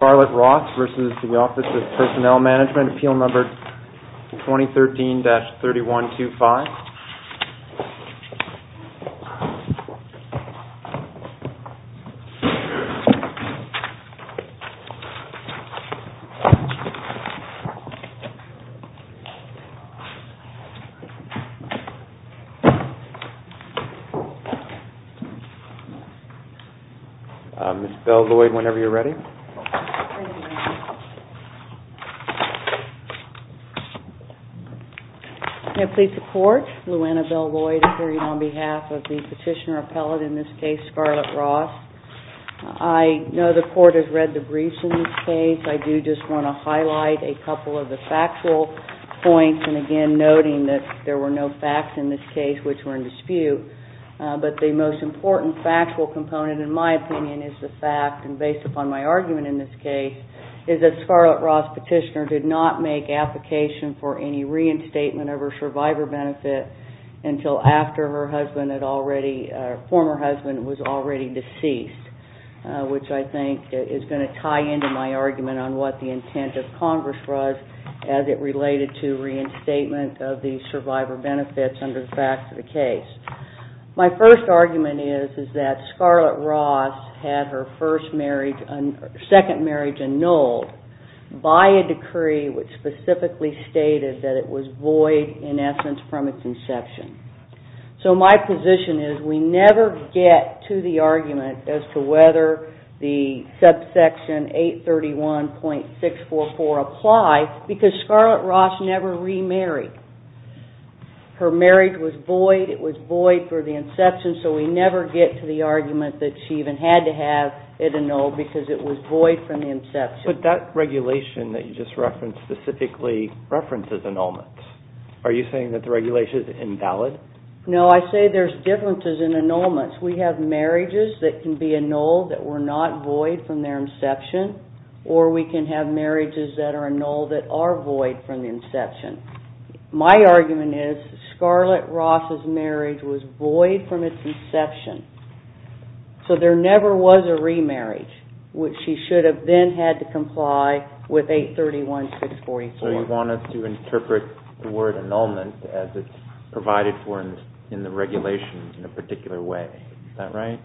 Charlotte Ross versus the Office of Personnel Management, appeal number 2013-3125. Ms. Bell, Lloyd, whenever you're ready. May it please the court, Lou Anna Bell Lloyd appearing on behalf of the petitioner appellate, in this case, Charlotte Ross. I know the court has read the briefs in this case. I do just want to highlight a couple of the factual points, and again, noting that there were no facts in this case which were in dispute. But the most important factual component, in my opinion, is the fact, and based upon my argument in this case, is that Charlotte Ross petitioner did not make application for any reinstatement of her survivor benefit until after her husband had already, her former husband was already deceased, which I think is going to tie into my argument on what the intent of Congress was as it related to reinstatement of the survivor benefits under the facts of the case. My first argument is that Charlotte Ross had her first marriage, second marriage annulled by a decree which specifically stated that it was void, in essence, from its inception. So my position is we never get to the argument as to whether the subsection 831.644 apply, because Charlotte Ross never remarried. Her marriage was void, it was void for the inception, so we never get to the argument that she even had to have it annulled because it was void from the inception. But that regulation that you just referenced specifically references annulments. Are you saying that the regulation is invalid? No, I say there's differences in annulments. We have marriages that can be annulled that were not void from their inception, or we can have marriages that are annulled that are void from the inception. My argument is Charlotte Ross' marriage was void from its inception, so there never was a remarriage, which she should have then had to comply with 831.644. So you want us to interpret the word annulment as it's provided for in the regulation in a particular way. Is that right?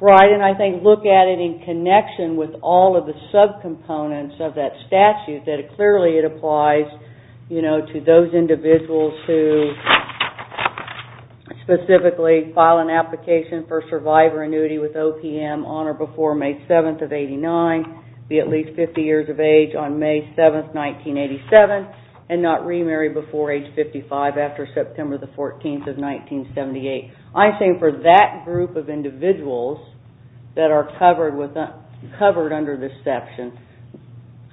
Right, and I think look at it in connection with all of the subcomponents of that statute that clearly it applies to those individuals who specifically file an application for survivor of 1987 and not remarried before age 55 after September 14, 1978. I'm saying for that group of individuals that are covered under this section,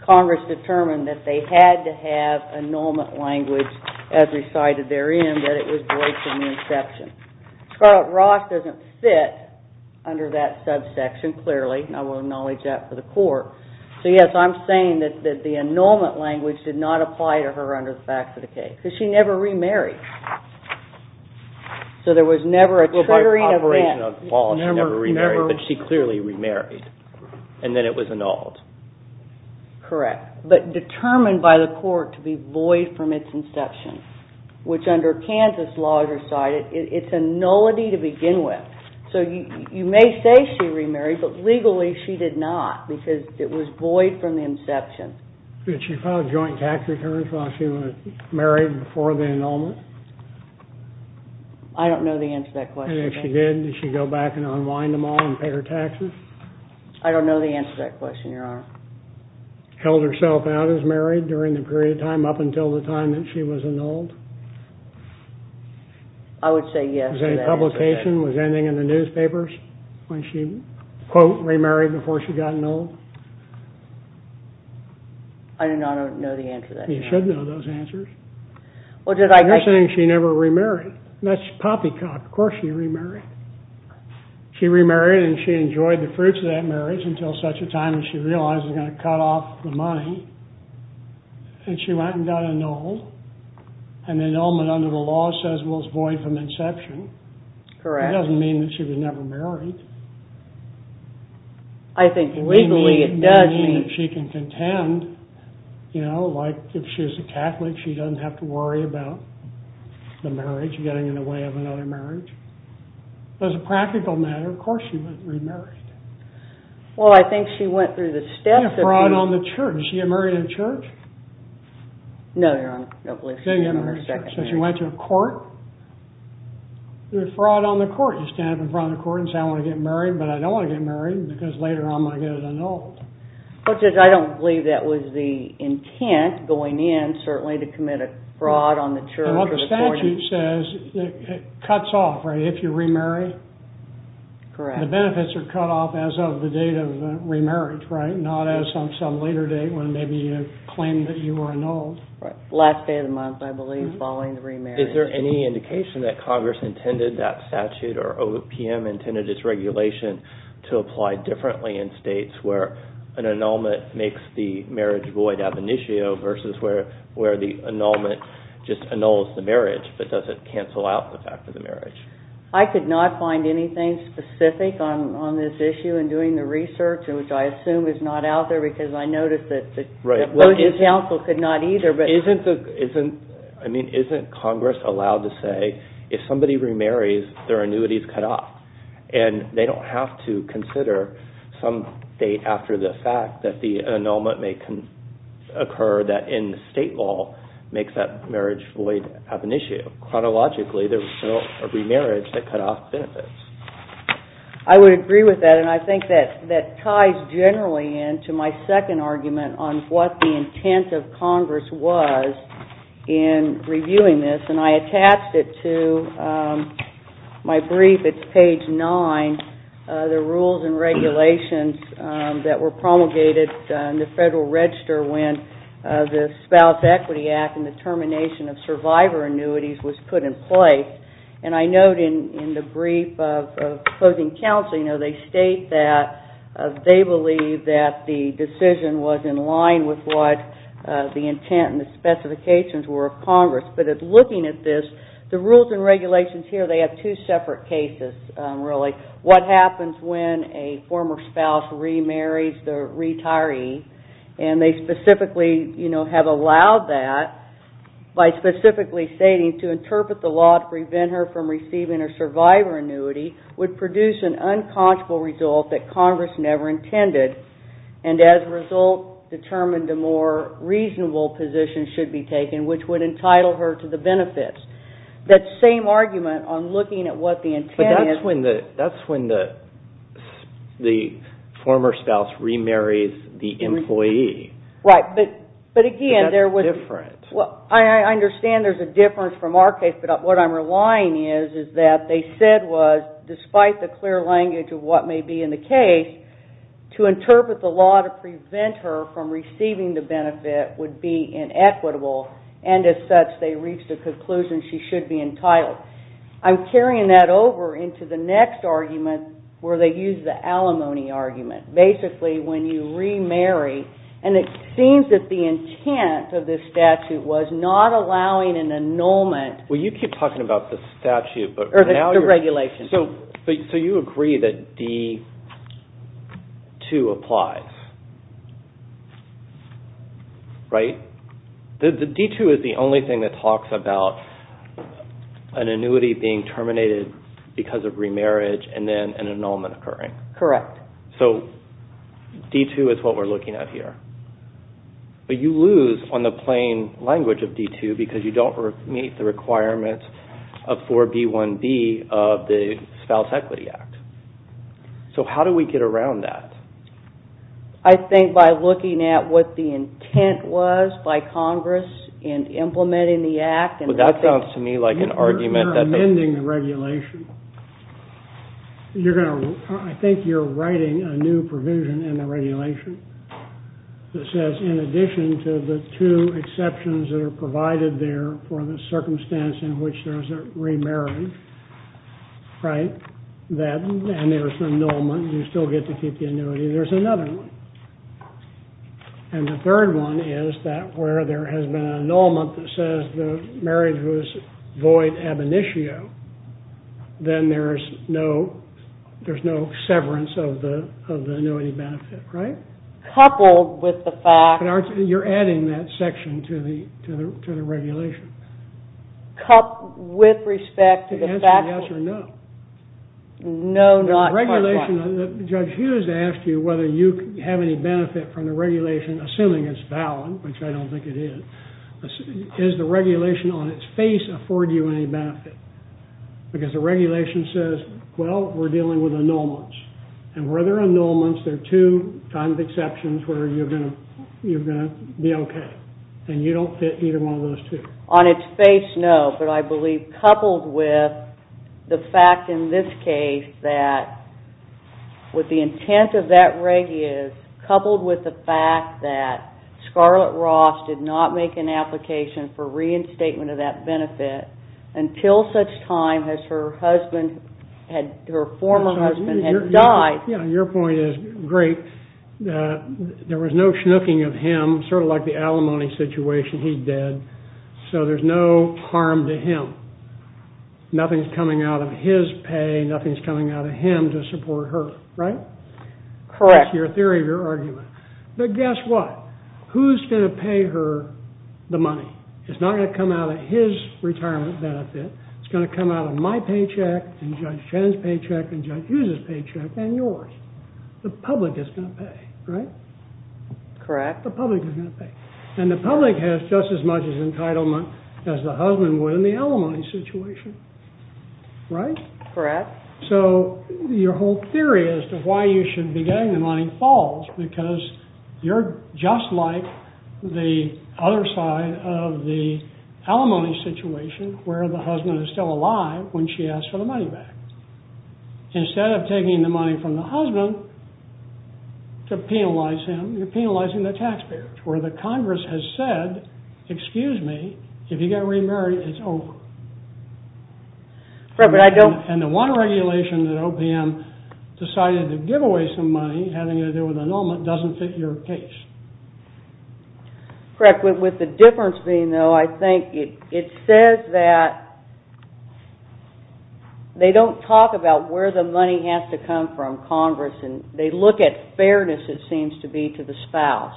Congress determined that they had to have annulment language as recited therein that it was void from the inception. Charlotte Ross doesn't fit under that subsection clearly, and I will acknowledge that for the annulment language did not apply to her under the facts of the case, because she never remarried. So there was never a triggering event. Well, by operation of the policy, she never remarried, but she clearly remarried, and then it was annulled. Correct, but determined by the court to be void from its inception, which under Kansas laws recited, it's a nullity to begin with. So you may say she remarried, but legally she did not because it was void from the inception. Did she file joint tax returns while she was married before the annulment? I don't know the answer to that question. And if she did, did she go back and unwind them all and pay her taxes? I don't know the answer to that question, Your Honor. Held herself out as married during the period of time up until the time that she was annulled? I would say yes to that answer. Was any publication, was anything in the newspapers when she quote remarried before she got annulled? I do not know the answer to that question. You should know those answers. You're saying she never remarried. That's poppycock. Of course she remarried. She remarried and she enjoyed the fruits of that marriage until such a time as she realized it was going to cut off the money, and she went and got annulled, and the annulment under the law says was void from inception. Correct. It doesn't mean that she was never married. I think legally it does mean... It may mean that she can contend, you know, like if she was a Catholic, she doesn't have to worry about the marriage getting in the way of another marriage. As a practical matter, of course she remarried. Well, I think she went through the steps of... She had fraud on the church. Did she get married in a church? No, Your Honor. She didn't get married in a church. She went to a court. There was fraud on the court. You stand up in front of the court and say, I want to get married, but I don't want to get married because later I'm going to get it annulled. I don't believe that was the intent going in, certainly, to commit a fraud on the church or the court. What the statute says, it cuts off, right, if you remarry. Correct. The benefits are cut off as of the date of the remarriage, right, not as of some later date when maybe you claimed that you were annulled. Right. Last day of the month, I believe, following the remarriage. Is there any indication that Congress intended that statute or OPM intended its regulation to apply differently in states where an annulment makes the marriage void ab initio versus where the annulment just annuls the marriage but doesn't cancel out the fact of the marriage? I could not find anything specific on this issue in doing the research, which I assume is not out there because I noticed that the Voting Council could not either. I mean, isn't Congress allowed to say, if somebody remarries, their annuity is cut off and they don't have to consider some date after the fact that the annulment may occur that in state law makes that marriage void ab initio. Chronologically, there was no remarriage that cut off benefits. I would agree with that and I think that ties generally into my second argument on what the intent of Congress was in reviewing this. And I attached it to my brief. It's page nine. The rules and regulations that were promulgated in the Federal Register when the Spouse Equity Act and the termination of survivor annuities was put in place. And I note in the brief of Voting Council, you know, they state that they believe that the decision was in line with what the intent and the specifications were of Congress. But looking at this, the rules and regulations here, they have two separate cases, really. What happens when a former spouse remarries the retiree and they specifically, you know, have allowed that by specifically stating to interpret the law to prevent her from receiving a survivor annuity would produce an unconscionable result that Congress never intended. And as a result, determined the more reasonable position should be taken, which would entitle her to the benefits. That same argument on looking at what the intent is. But that's when the former spouse remarries the employee. But again, there was... But that's different. Well, I understand there's a difference from our case. But what I'm relying is that they said was, despite the clear language of what may be in the case, to interpret the law to prevent her from receiving the benefit would be inequitable. And as such, they reached a conclusion she should be entitled. I'm carrying that over into the next argument where they use the alimony argument. Basically, when you remarry, and it seems that the intent of this statute was not allowing an annulment. Well, you keep talking about the statute, but now you're... The regulation. So you agree that D2 applies, right? The D2 is the only thing that talks about an annuity being terminated because of remarriage and then an annulment occurring. Correct. So D2 is what we're looking at here. But you lose on the plain language of D2 because you don't meet the requirements of 4B1B of the Spouse Equity Act. So how do we get around that? I think by looking at what the intent was by Congress in implementing the act. But that sounds to me like an argument that... You're amending the regulation. You're going to... I think you're writing a new provision in the regulation that says, in addition to the two exceptions that are provided there for the circumstance in which there's a remarriage, right? That... And there's an annulment. You still get to keep the annuity. There's another one. And the third one is that where there has been an annulment that says the marriage was void ab initio, then there's no severance of the annuity benefit, right? Coupled with the fact... You're adding that section to the regulation. Coupled with respect to the fact... To answer yes or no. No, not quite. The regulation... Judge Hughes asked you whether you have any benefit from the regulation, assuming it's valid, which I don't think it is. Does the regulation on its face afford you any benefit? Because the regulation says, well, we're dealing with annulments. And where there are annulments, there are two kinds of exceptions where you're going to be okay. And you don't fit either one of those two. On its face, no. But I believe coupled with the fact in this case that what the intent of that application for reinstatement of that benefit until such time as her husband, her former husband had died... Your point is great. There was no schnooking of him, sort of like the alimony situation he did. So there's no harm to him. Nothing's coming out of his pay. Nothing's coming out of him to support her, right? Correct. That's your theory of your argument. But guess what? Who's going to pay her the money? It's not going to come out of his retirement benefit. It's going to come out of my paycheck, and Judge Chen's paycheck, and Judge Yu's paycheck, and yours. The public is going to pay, right? Correct. The public is going to pay. And the public has just as much entitlement as the husband would in the alimony situation, right? Correct. So your whole theory as to why you should be getting the money falls because you're just like the other side of the alimony situation, where the husband is still alive when she asks for the money back. Instead of taking the money from the husband to penalize him, you're penalizing the taxpayers, where the Congress has said, excuse me, if you get remarried, it's over. And the one regulation that OPM decided to give away some money, having to do with an annulment, doesn't fit your case. Correct. With the difference being, though, I think it says that they don't talk about where the money has to come from, Congress, and they look at fairness it seems to be to the spouse,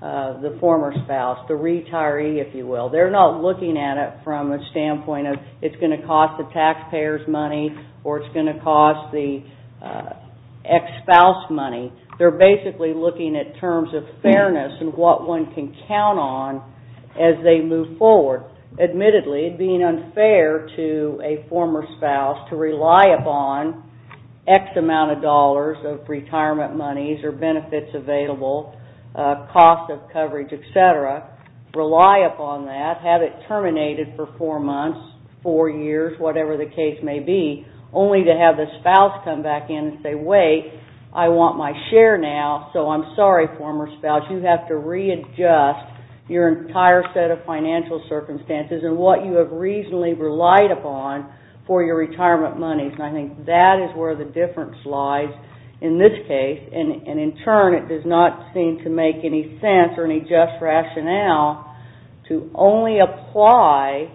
the former spouse, the retiree, if you will. They're not looking at it from a standpoint of it's going to cost the They're basically looking at terms of fairness and what one can count on as they move forward. Admittedly, being unfair to a former spouse to rely upon X amount of dollars of retirement monies or benefits available, cost of coverage, et cetera, rely upon that, have it terminated for four months, four years, whatever the case may be, only to have the spouse come back in and say, Wait, I want my share now, so I'm sorry, former spouse. You have to readjust your entire set of financial circumstances and what you have reasonably relied upon for your retirement monies. And I think that is where the difference lies in this case. And in turn, it does not seem to make any sense or any just rationale to only apply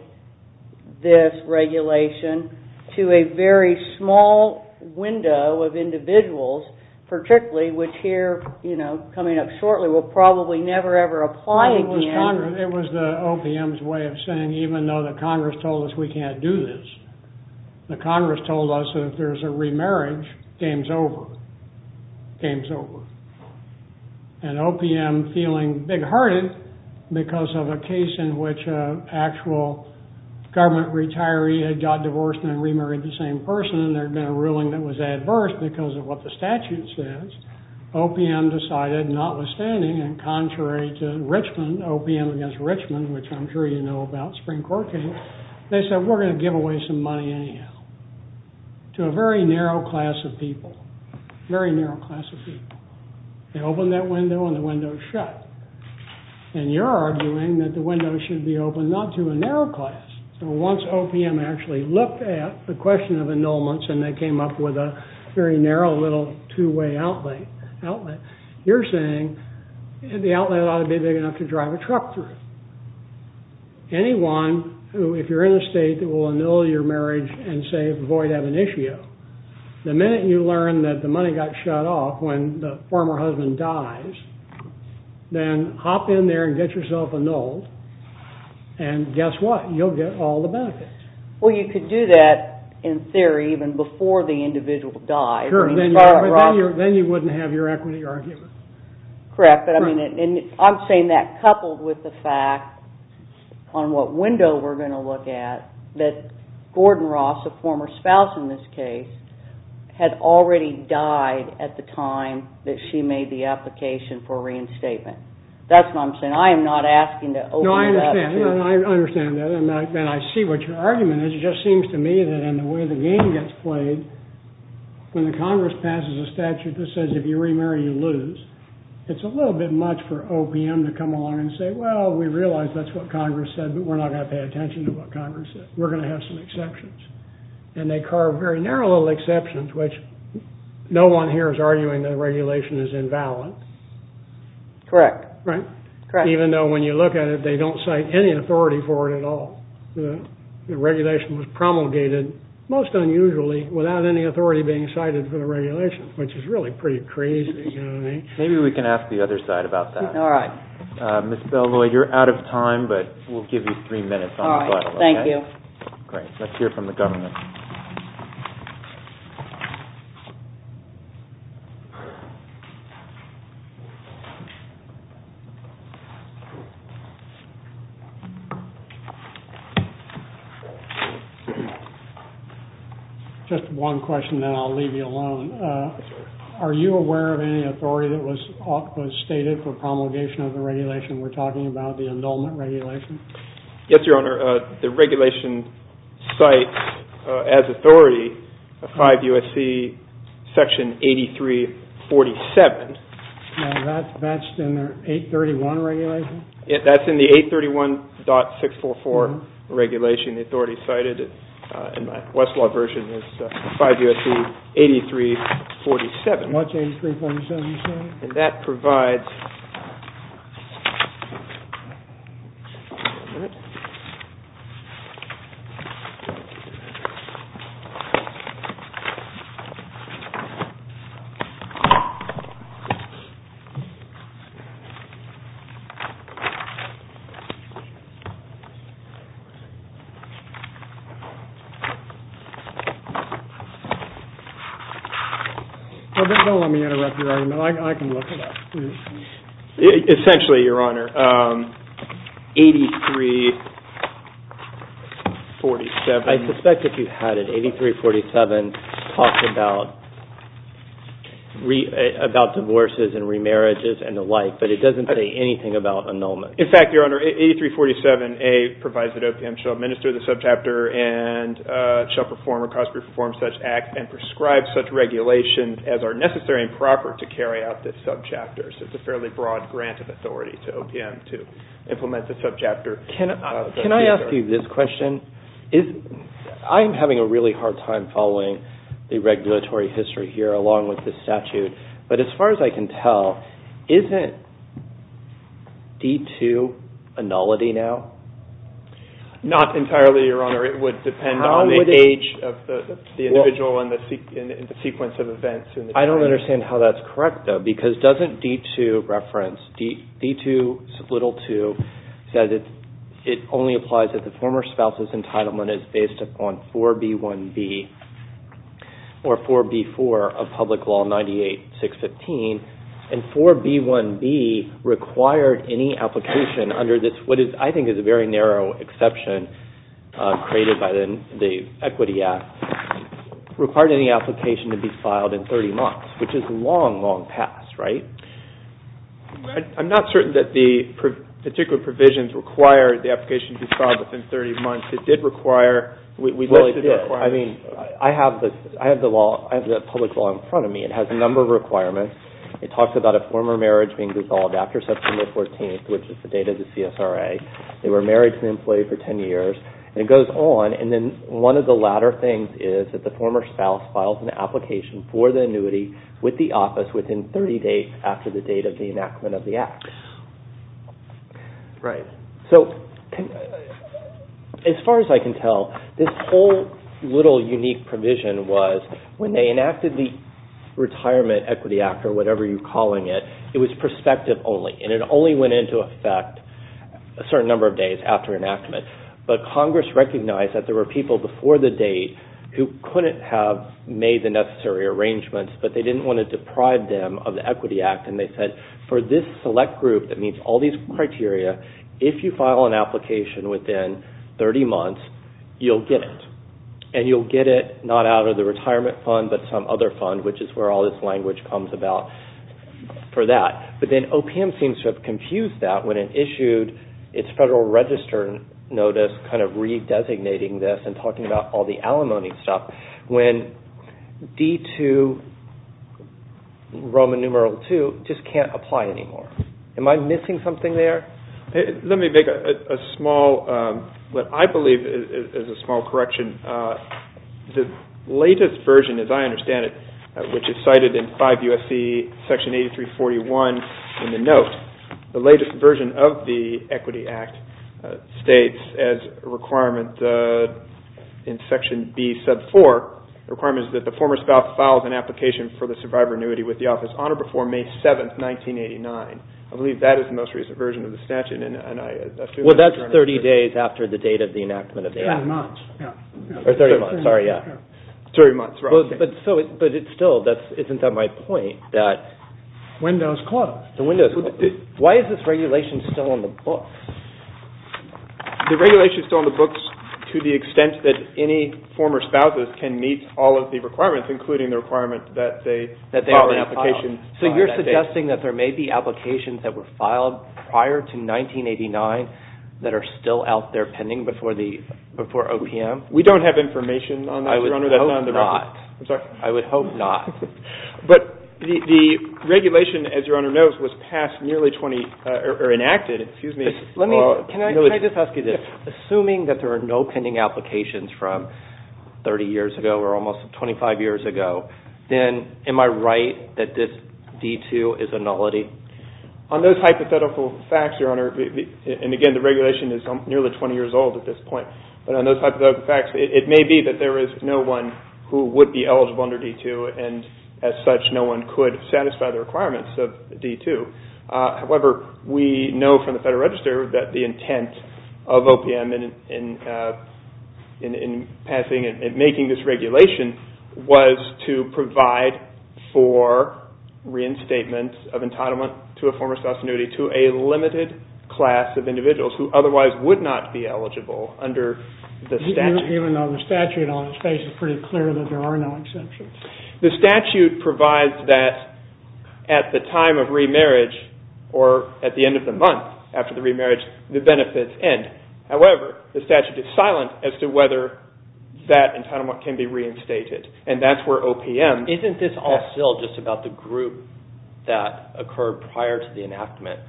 this regulation to a very small window of individuals, particularly which here, you know, coming up shortly, will probably never, ever apply again. It was the OPM's way of saying, even though the Congress told us we can't do this, the Congress told us if there's a remarriage, game's over. Game's over. And OPM feeling big-hearted because of a case in which an actual government retiree had got divorced and remarried the same person and there had been a ruling that was adverse because of what the statute says, OPM decided notwithstanding and contrary to Richmond, OPM against Richmond, which I'm sure you know about, spring court case, they said we're going to give away some money anyhow to a very narrow class of people. Very narrow class of people. They open that window and the window is shut. And you're arguing that the window should be open not to a narrow class. So once OPM actually looked at the question of annulments and they came up with a very narrow little two-way outlet, you're saying the outlet ought to be big enough to drive a truck through. Anyone who, if you're in a state that will annul your marriage and say avoid ab initio, the minute you learn that the money got shut off when the former husband dies, then hop in there and get yourself annulled and guess what, you'll get all the benefits. Well, you could do that in theory even before the individual dies. Sure. Then you wouldn't have your equity argument. Correct. I'm saying that coupled with the fact on what window we're going to look at that Gordon Ross, a former spouse in this case, had already died at the time that she made the application for reinstatement. That's what I'm saying. I am not asking to open it up. No, I understand. I understand that and I see what your argument is. It just seems to me that in the way the game gets played, when the Congress passes a statute that says if you remarry, you lose, it's a little bit much for OPM to come along and say, well, we realize that's what Congress said, but we're not going to pay attention to what Congress said. We're going to have some exceptions. And they carve very narrow little exceptions, which no one here is arguing the regulation is invalid. Correct. Even though when you look at it, they don't cite any authority for it at all. The regulation was promulgated most unusually without any authority being cited for the regulation, Maybe we can ask the other side about that. All right. Ms. Bell-Loyd, you're out of time, but we'll give you three minutes. All right. Thank you. Great. Let's hear from the government. Just one question, then I'll leave you alone. Are you aware of any authority that was stated for promulgation of the regulation? We're talking about the indulgent regulation. Yes, Your Honor. The regulation cites as authority a 5 U.S.C. Section 8347. That's in the 831 regulation? That's in the 831.644 regulation. The authority cited in my Westlaw version is 5 U.S.C. 8347. What's 8347, Your Honor? And that provides... Don't let me interrupt you right now. I can look it up. Essentially, Your Honor, 8347... I suspect that you've had it. 8347 talks about divorces and remarriages and the like, but it doesn't say anything about annulment. In fact, Your Honor, 8347A provides that OPM shall administer the statute or the subchapter and shall perform or cause to perform such acts and prescribe such regulations as are necessary and proper to carry out the subchapters. It's a fairly broad grant of authority to OPM to implement the subchapter. Can I ask you this question? I'm having a really hard time following the regulatory history here along with the statute, but as far as I can tell, isn't D-2 a nullity now? Not entirely, Your Honor. It would depend on the age of the individual and the sequence of events. I don't understand how that's correct, though, because doesn't D-2 reference... D-2, little 2, says it only applies if the former spouse's entitlement is based upon 4B1B or 4B4 of Public Law 98-615, and 4B1B required any application under this, what I think is a very narrow exception created by the Equity Act, required any application to be filed in 30 months, which is long, long past, right? I'm not certain that the particular provisions require the application to be filed within 30 months. It did require... Well, it did. I mean, I have the law, I have the public law in front of me. It has a number of requirements. It talks about a former marriage being dissolved after September 14th, which is the date of the CSRA. They were married to an employee for 10 years, and it goes on, and then one of the latter things is that the former spouse files an application for the annuity with the office within 30 days after the date of the enactment of the Act. Right. So, as far as I can tell, this whole little unique provision was when they enacted the Retirement Equity Act or whatever you're calling it, it was prospective only, and it only went into effect a certain number of days after enactment, but Congress recognized that there were people before the date who couldn't have made the necessary arrangements, but they didn't want to deprive them of the Equity Act, and they said, for this select group that meets all these criteria, if you file an application within 30 months, you'll get it, and you'll get it not out of the retirement fund, but some other fund, which is where all this language comes about for that, but then OPM seems to have confused that when it issued its Federal Register Notice kind of re-designating this and talking about all the alimony stuff. When D2, Roman numeral 2, just can't apply anymore. Am I missing something there? Let me make a small, what I believe is a small correction. The latest version, as I understand it, which is cited in 5 U.S.C. section 8341 in the note, the latest version of the Equity Act states as a requirement in section B sub 4, the requirement is that the former spouse files an application for the survivor annuity with the office on or before May 7, 1989. I believe that is the most recent version of the statute, and I assume that's correct. Well, that's 30 days after the date of the enactment of the Act. 30 months, yeah. Or 30 months, sorry, yeah. 30 months, right. But still, isn't that my point? Windows closed. Why is this regulation still on the books? The regulation is still on the books to the extent that any former spouses can meet all of the requirements, including the requirement that they file an application on that date. So you're suggesting that there may be applications that were filed prior to 1989 that are still out there pending before OPM? We don't have information on that, Your Honor. I would hope not. I'm sorry? I would hope not. But the regulation, as Your Honor knows, was enacted nearly 20 years ago. Can I just ask you this? Assuming that there are no pending applications from 30 years ago or almost 25 years ago, then am I right that this D-2 is a nullity? On those hypothetical facts, Your Honor, and again, the regulation is nearly 20 years old at this point, but on those hypothetical facts, it may be that there is no one who would be eligible under D-2, and as such, no one could satisfy the requirements of D-2. However, we know from the Federal Register that the intent of OPM in making this regulation was to provide for reinstatement of entitlement to a former spouse's annuity to a limited class of individuals who otherwise would not be eligible under the statute. Even though the statute on its face is pretty clear that there are no exceptions. The statute provides that at the time of remarriage or at the end of the month after the remarriage, the benefits end. However, the statute is silent as to whether that entitlement can be reinstated, Isn't this all still just about the group that occurred prior to the enactment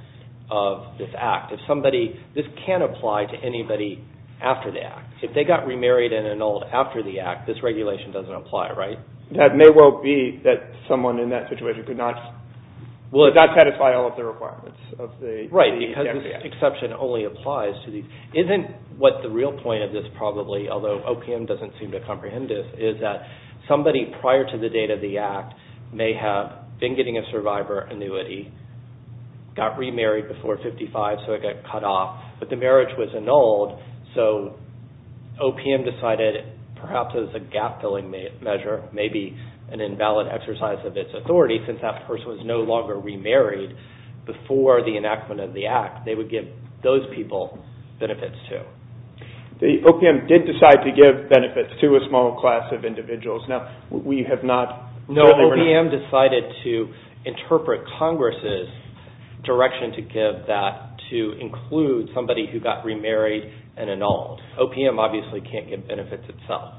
of this act? If somebody, this can't apply to anybody after the act. If they got remarried and annulled after the act, this regulation doesn't apply, right? That may well be that someone in that situation could not satisfy all of the requirements. Right, because this exception only applies to these. Isn't what the real point of this probably, although OPM doesn't seem to comprehend this, is that somebody prior to the date of the act may have been getting a survivor annuity, got remarried before 55, so it got cut off, but the marriage was annulled, so OPM decided perhaps as a gap-filling measure, maybe an invalid exercise of its authority since that person was no longer remarried before the enactment of the act, they would give those people benefits too. OPM did decide to give benefits to a small class of individuals. No, OPM decided to interpret Congress' direction to give that, to include somebody who got remarried and annulled. OPM obviously can't give benefits itself.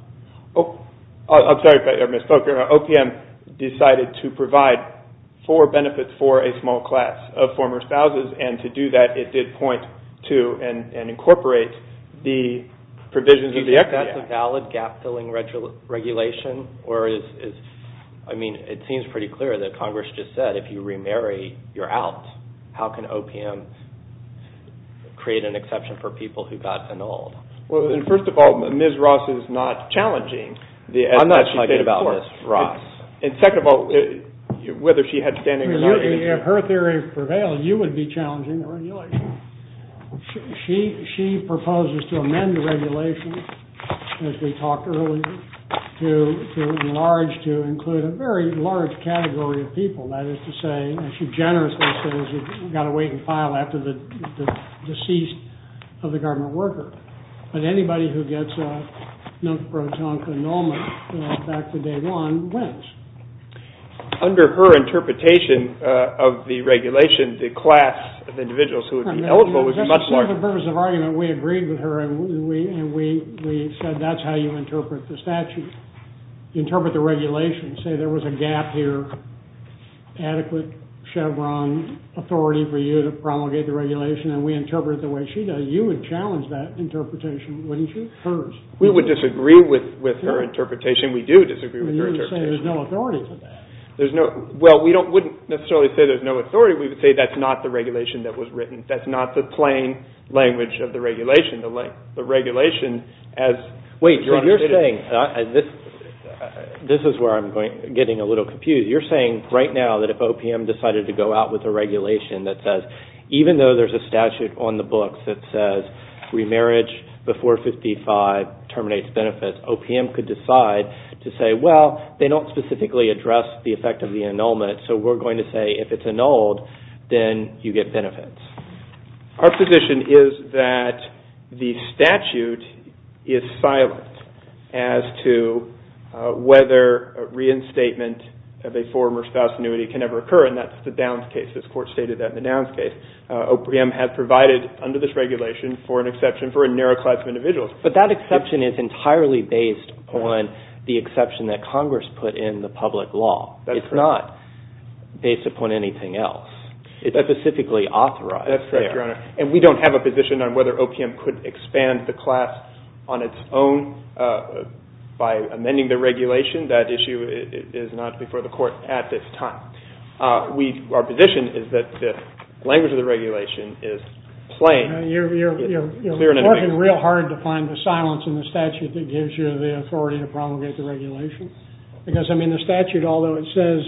I'm sorry, Ms. Folker. OPM decided to provide for benefits for a small class of former spouses, and to do that it did point to and incorporate the provisions of the act. Do you think that's a valid gap-filling regulation? I mean, it seems pretty clear that Congress just said if you remarry, you're out. How can OPM create an exception for people who got annulled? Well, first of all, Ms. Ross is not challenging the act. I'm not talking about Ms. Ross. And second of all, whether she had standing or not. If her theory prevailed, you would be challenging the regulation. She proposes to amend the regulation, as we talked earlier, to enlarge, to include a very large category of people, that is to say, and she generously says you've got to wait and file after the deceased of the garment worker. But anybody who gets a non-protonic annulment back to day one wins. Under her interpretation of the regulation, the class of individuals who would be eligible would be much larger. For the purpose of argument, we agreed with her, and we said that's how you interpret the statute. Interpret the regulation. Say there was a gap here, adequate Chevron authority for you to promulgate the regulation, and we interpret it the way she does. You would challenge that interpretation, wouldn't you? Hers. We would disagree with her interpretation. We do disagree with her interpretation. You would say there's no authority for that. Well, we wouldn't necessarily say there's no authority. We would say that's not the regulation that was written. That's not the plain language of the regulation. Wait, so you're saying, this is where I'm getting a little confused. You're saying right now that if OPM decided to go out with a regulation that says, even though there's a statute on the books that says remarriage before 55 terminates benefits, OPM could decide to say, well, they don't specifically address the effect of the annulment, so we're going to say if it's annulled, then you get benefits. Our position is that the statute is silent as to whether reinstatement of a former spouse annuity can ever occur, and that's the Downs case. This court stated that in the Downs case. OPM has provided under this regulation for an exception for a narrow class of individuals. But that exception is entirely based on the exception that Congress put in the public law. That's correct. It's not based upon anything else. It's specifically authorized there. That's correct, Your Honor. And we don't have a position on whether OPM could expand the class on its own by amending the regulation. That issue is not before the court at this time. Our position is that the language of the regulation is plain. You're working real hard to find the silence in the statute that gives you the authority to promulgate the regulation. Because, I mean, the statute, although it says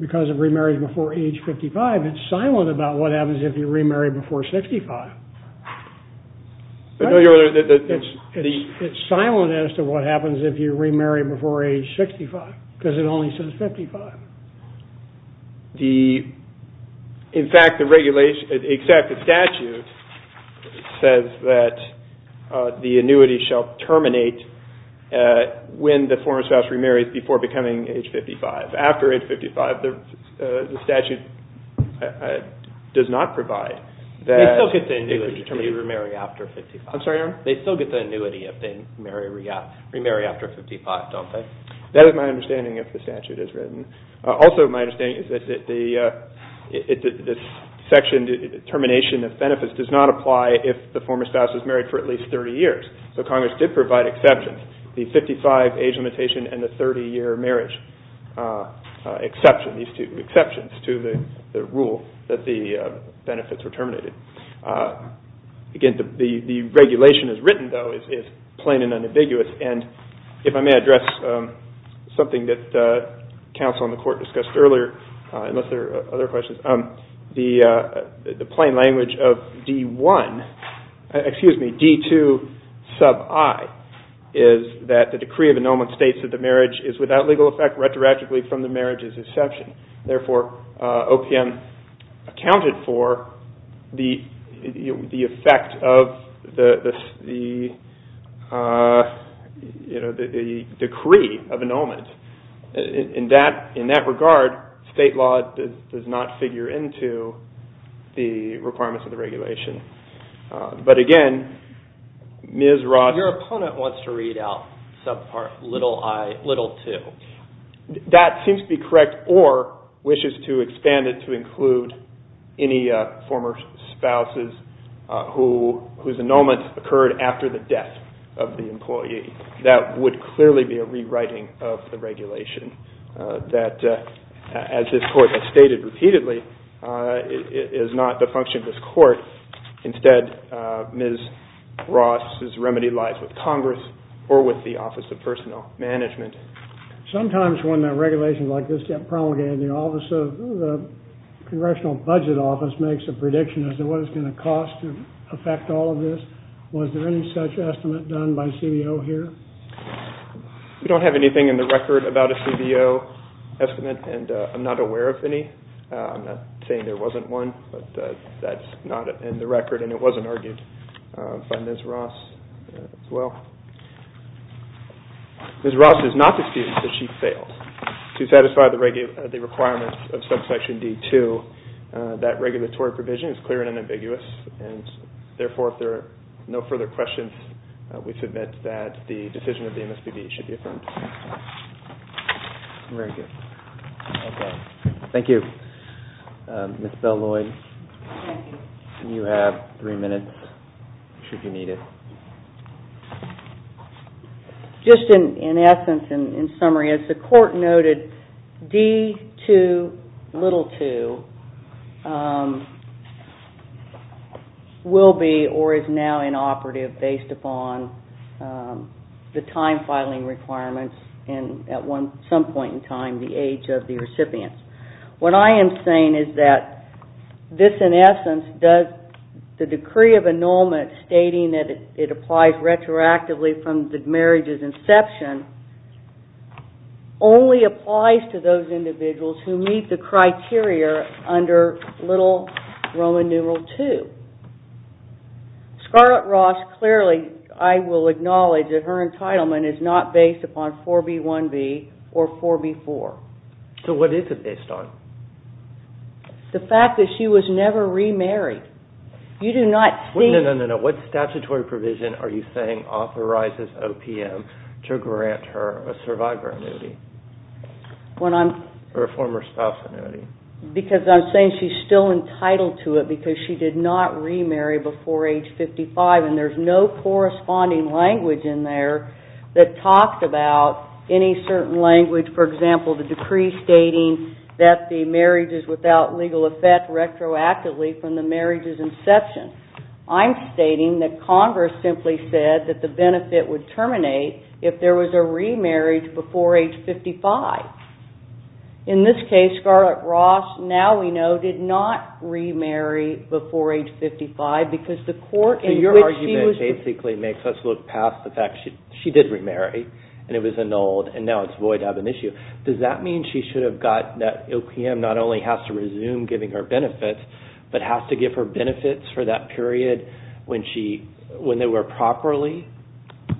because of remarriage before age 55, it's silent about what happens if you remarry before 65. It's silent as to what happens if you remarry before age 65 because it only says 55. In fact, the statute says that the annuity shall terminate when the former spouse remarries before becoming age 55. After age 55, the statute does not provide that. They still get the annuity if they remarry after 55. I'm sorry, Your Honor? They still get the annuity if they remarry after 55, don't they? That is my understanding of the statute as written. Also, my understanding is that this section, termination of benefits, does not apply if the former spouse is married for at least 30 years. So Congress did provide exceptions, the 55 age limitation and the 30-year marriage exception, these two exceptions to the rule that the benefits were terminated. Again, the regulation as written, though, is plain and unambiguous. And if I may address something that counsel in the court discussed earlier, unless there are other questions, the plain language of D-1, excuse me, D-2 sub I, is that the decree of annulment states that the marriage is without legal effect retroactively from the marriage's exception. Therefore, OPM accounted for the effect of the decree of annulment. In that regard, state law does not figure into the requirements of the regulation. But again, Ms. Ross. Your opponent wants to read out sub part little I, little II. That seems to be correct, or wishes to expand it to include any former spouses whose annulment occurred after the death of the employee. That would clearly be a rewriting of the regulation that, as this Court has stated repeatedly, Instead, Ms. Ross's remedy lies with Congress or with the Office of Personnel Management. Sometimes when regulations like this get promulgated, the Congressional Budget Office makes a prediction as to what it's going to cost to affect all of this. Was there any such estimate done by CBO here? We don't have anything in the record about a CBO estimate, and I'm not aware of any. I'm not saying there wasn't one, but that's not in the record, and it wasn't argued by Ms. Ross as well. Ms. Ross is not excused that she failed to satisfy the requirements of subsection D-2. That regulatory provision is clear and unambiguous, and therefore, if there are no further questions, we submit that the decision of the MSPB should be affirmed. Very good. Thank you. Ms. Bell-Lloyd, you have three minutes, if you need it. Just in essence, in summary, as the Court noted, D-2, little 2, will be or is now inoperative based upon the time-filing requirements and at some point in time, the age of the recipient. What I am saying is that this, in essence, does the decree of annulment stating that it applies retroactively from the marriage's inception, only applies to those individuals who meet the criteria under little Roman numeral 2. Scarlett Ross, clearly, I will acknowledge that her entitlement is not based upon 4B-1B or 4B-4. So what is it based on? The fact that she was never remarried. No, no, no. What statutory provision are you saying authorizes OPM to grant her a survivor annuity or a former spouse annuity? Because I'm saying she's still entitled to it because she did not remarry before age 55, and there's no corresponding language in there that talks about any certain language. For example, the decree stating that the marriage is without legal effect retroactively from the marriage's inception. I'm stating that Congress simply said that the benefit would terminate if there was a remarriage before age 55. In this case, Scarlett Ross, now we know, did not remarry before age 55 because the Court in which she was... Does that mean she should have gotten that OPM not only has to resume giving her benefits, but has to give her benefits for that period when they were properly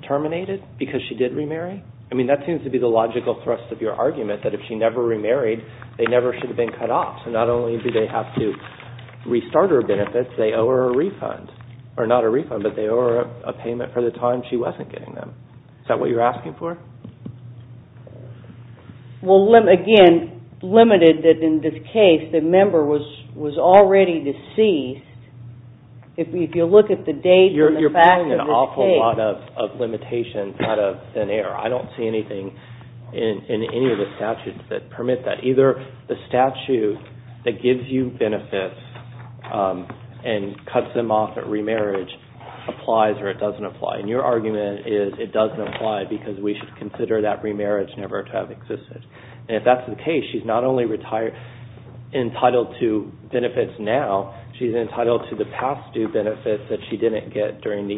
terminated because she did remarry? I mean, that seems to be the logical thrust of your argument, that if she never remarried, they never should have been cut off. So not only do they have to restart her benefits, they owe her a refund. Or not a refund, but they owe her a payment for the time she wasn't getting them. Is that what you're asking for? Well, again, limited that in this case the member was already deceased. If you look at the date and the fact of this case... You're putting an awful lot of limitations out of thin air. I don't see anything in any of the statutes that permit that. Either the statute that gives you benefits and cuts them off at remarriage applies or it doesn't apply. And your argument is it doesn't apply because we should consider that remarriage never to have existed. And if that's the case, she's not only entitled to benefits now, she's entitled to the past due benefits that she didn't get during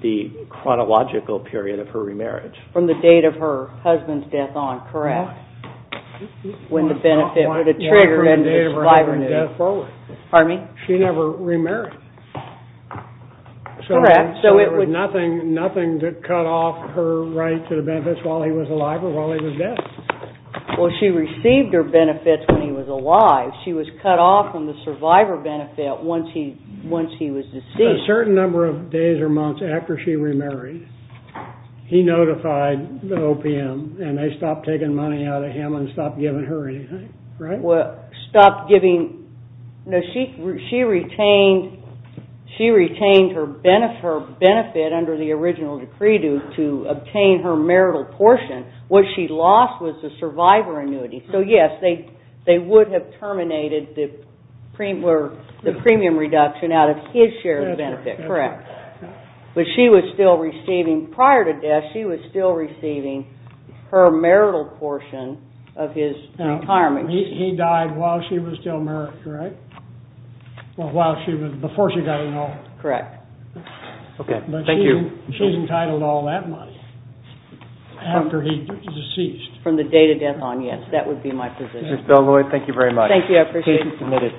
the chronological period of her remarriage. From the date of her husband's death on, correct? When the benefit would have triggered and it was five or nine. She never remarried. Correct. So there was nothing to cut off her right to the benefits while he was alive or while he was dead? Well, she received her benefits when he was alive. She was cut off from the survivor benefit once he was deceased. A certain number of days or months after she remarried, he notified the OPM, and they stopped taking money out of him and stopped giving her anything, right? No, she retained her benefit under the original decree to obtain her marital portion. What she lost was the survivor annuity. So, yes, they would have terminated the premium reduction out of his share of the benefit, correct. But she was still receiving, prior to death, she was still receiving her marital portion of his retirement. He died while she was still married, correct? Before she got enrolled. Correct. Okay. Thank you. She's entitled to all that money after he's deceased. From the date of death on, yes. That would be my position. Ms. Bell-Lloyd, thank you very much. Thank you. I appreciate it. Case is submitted.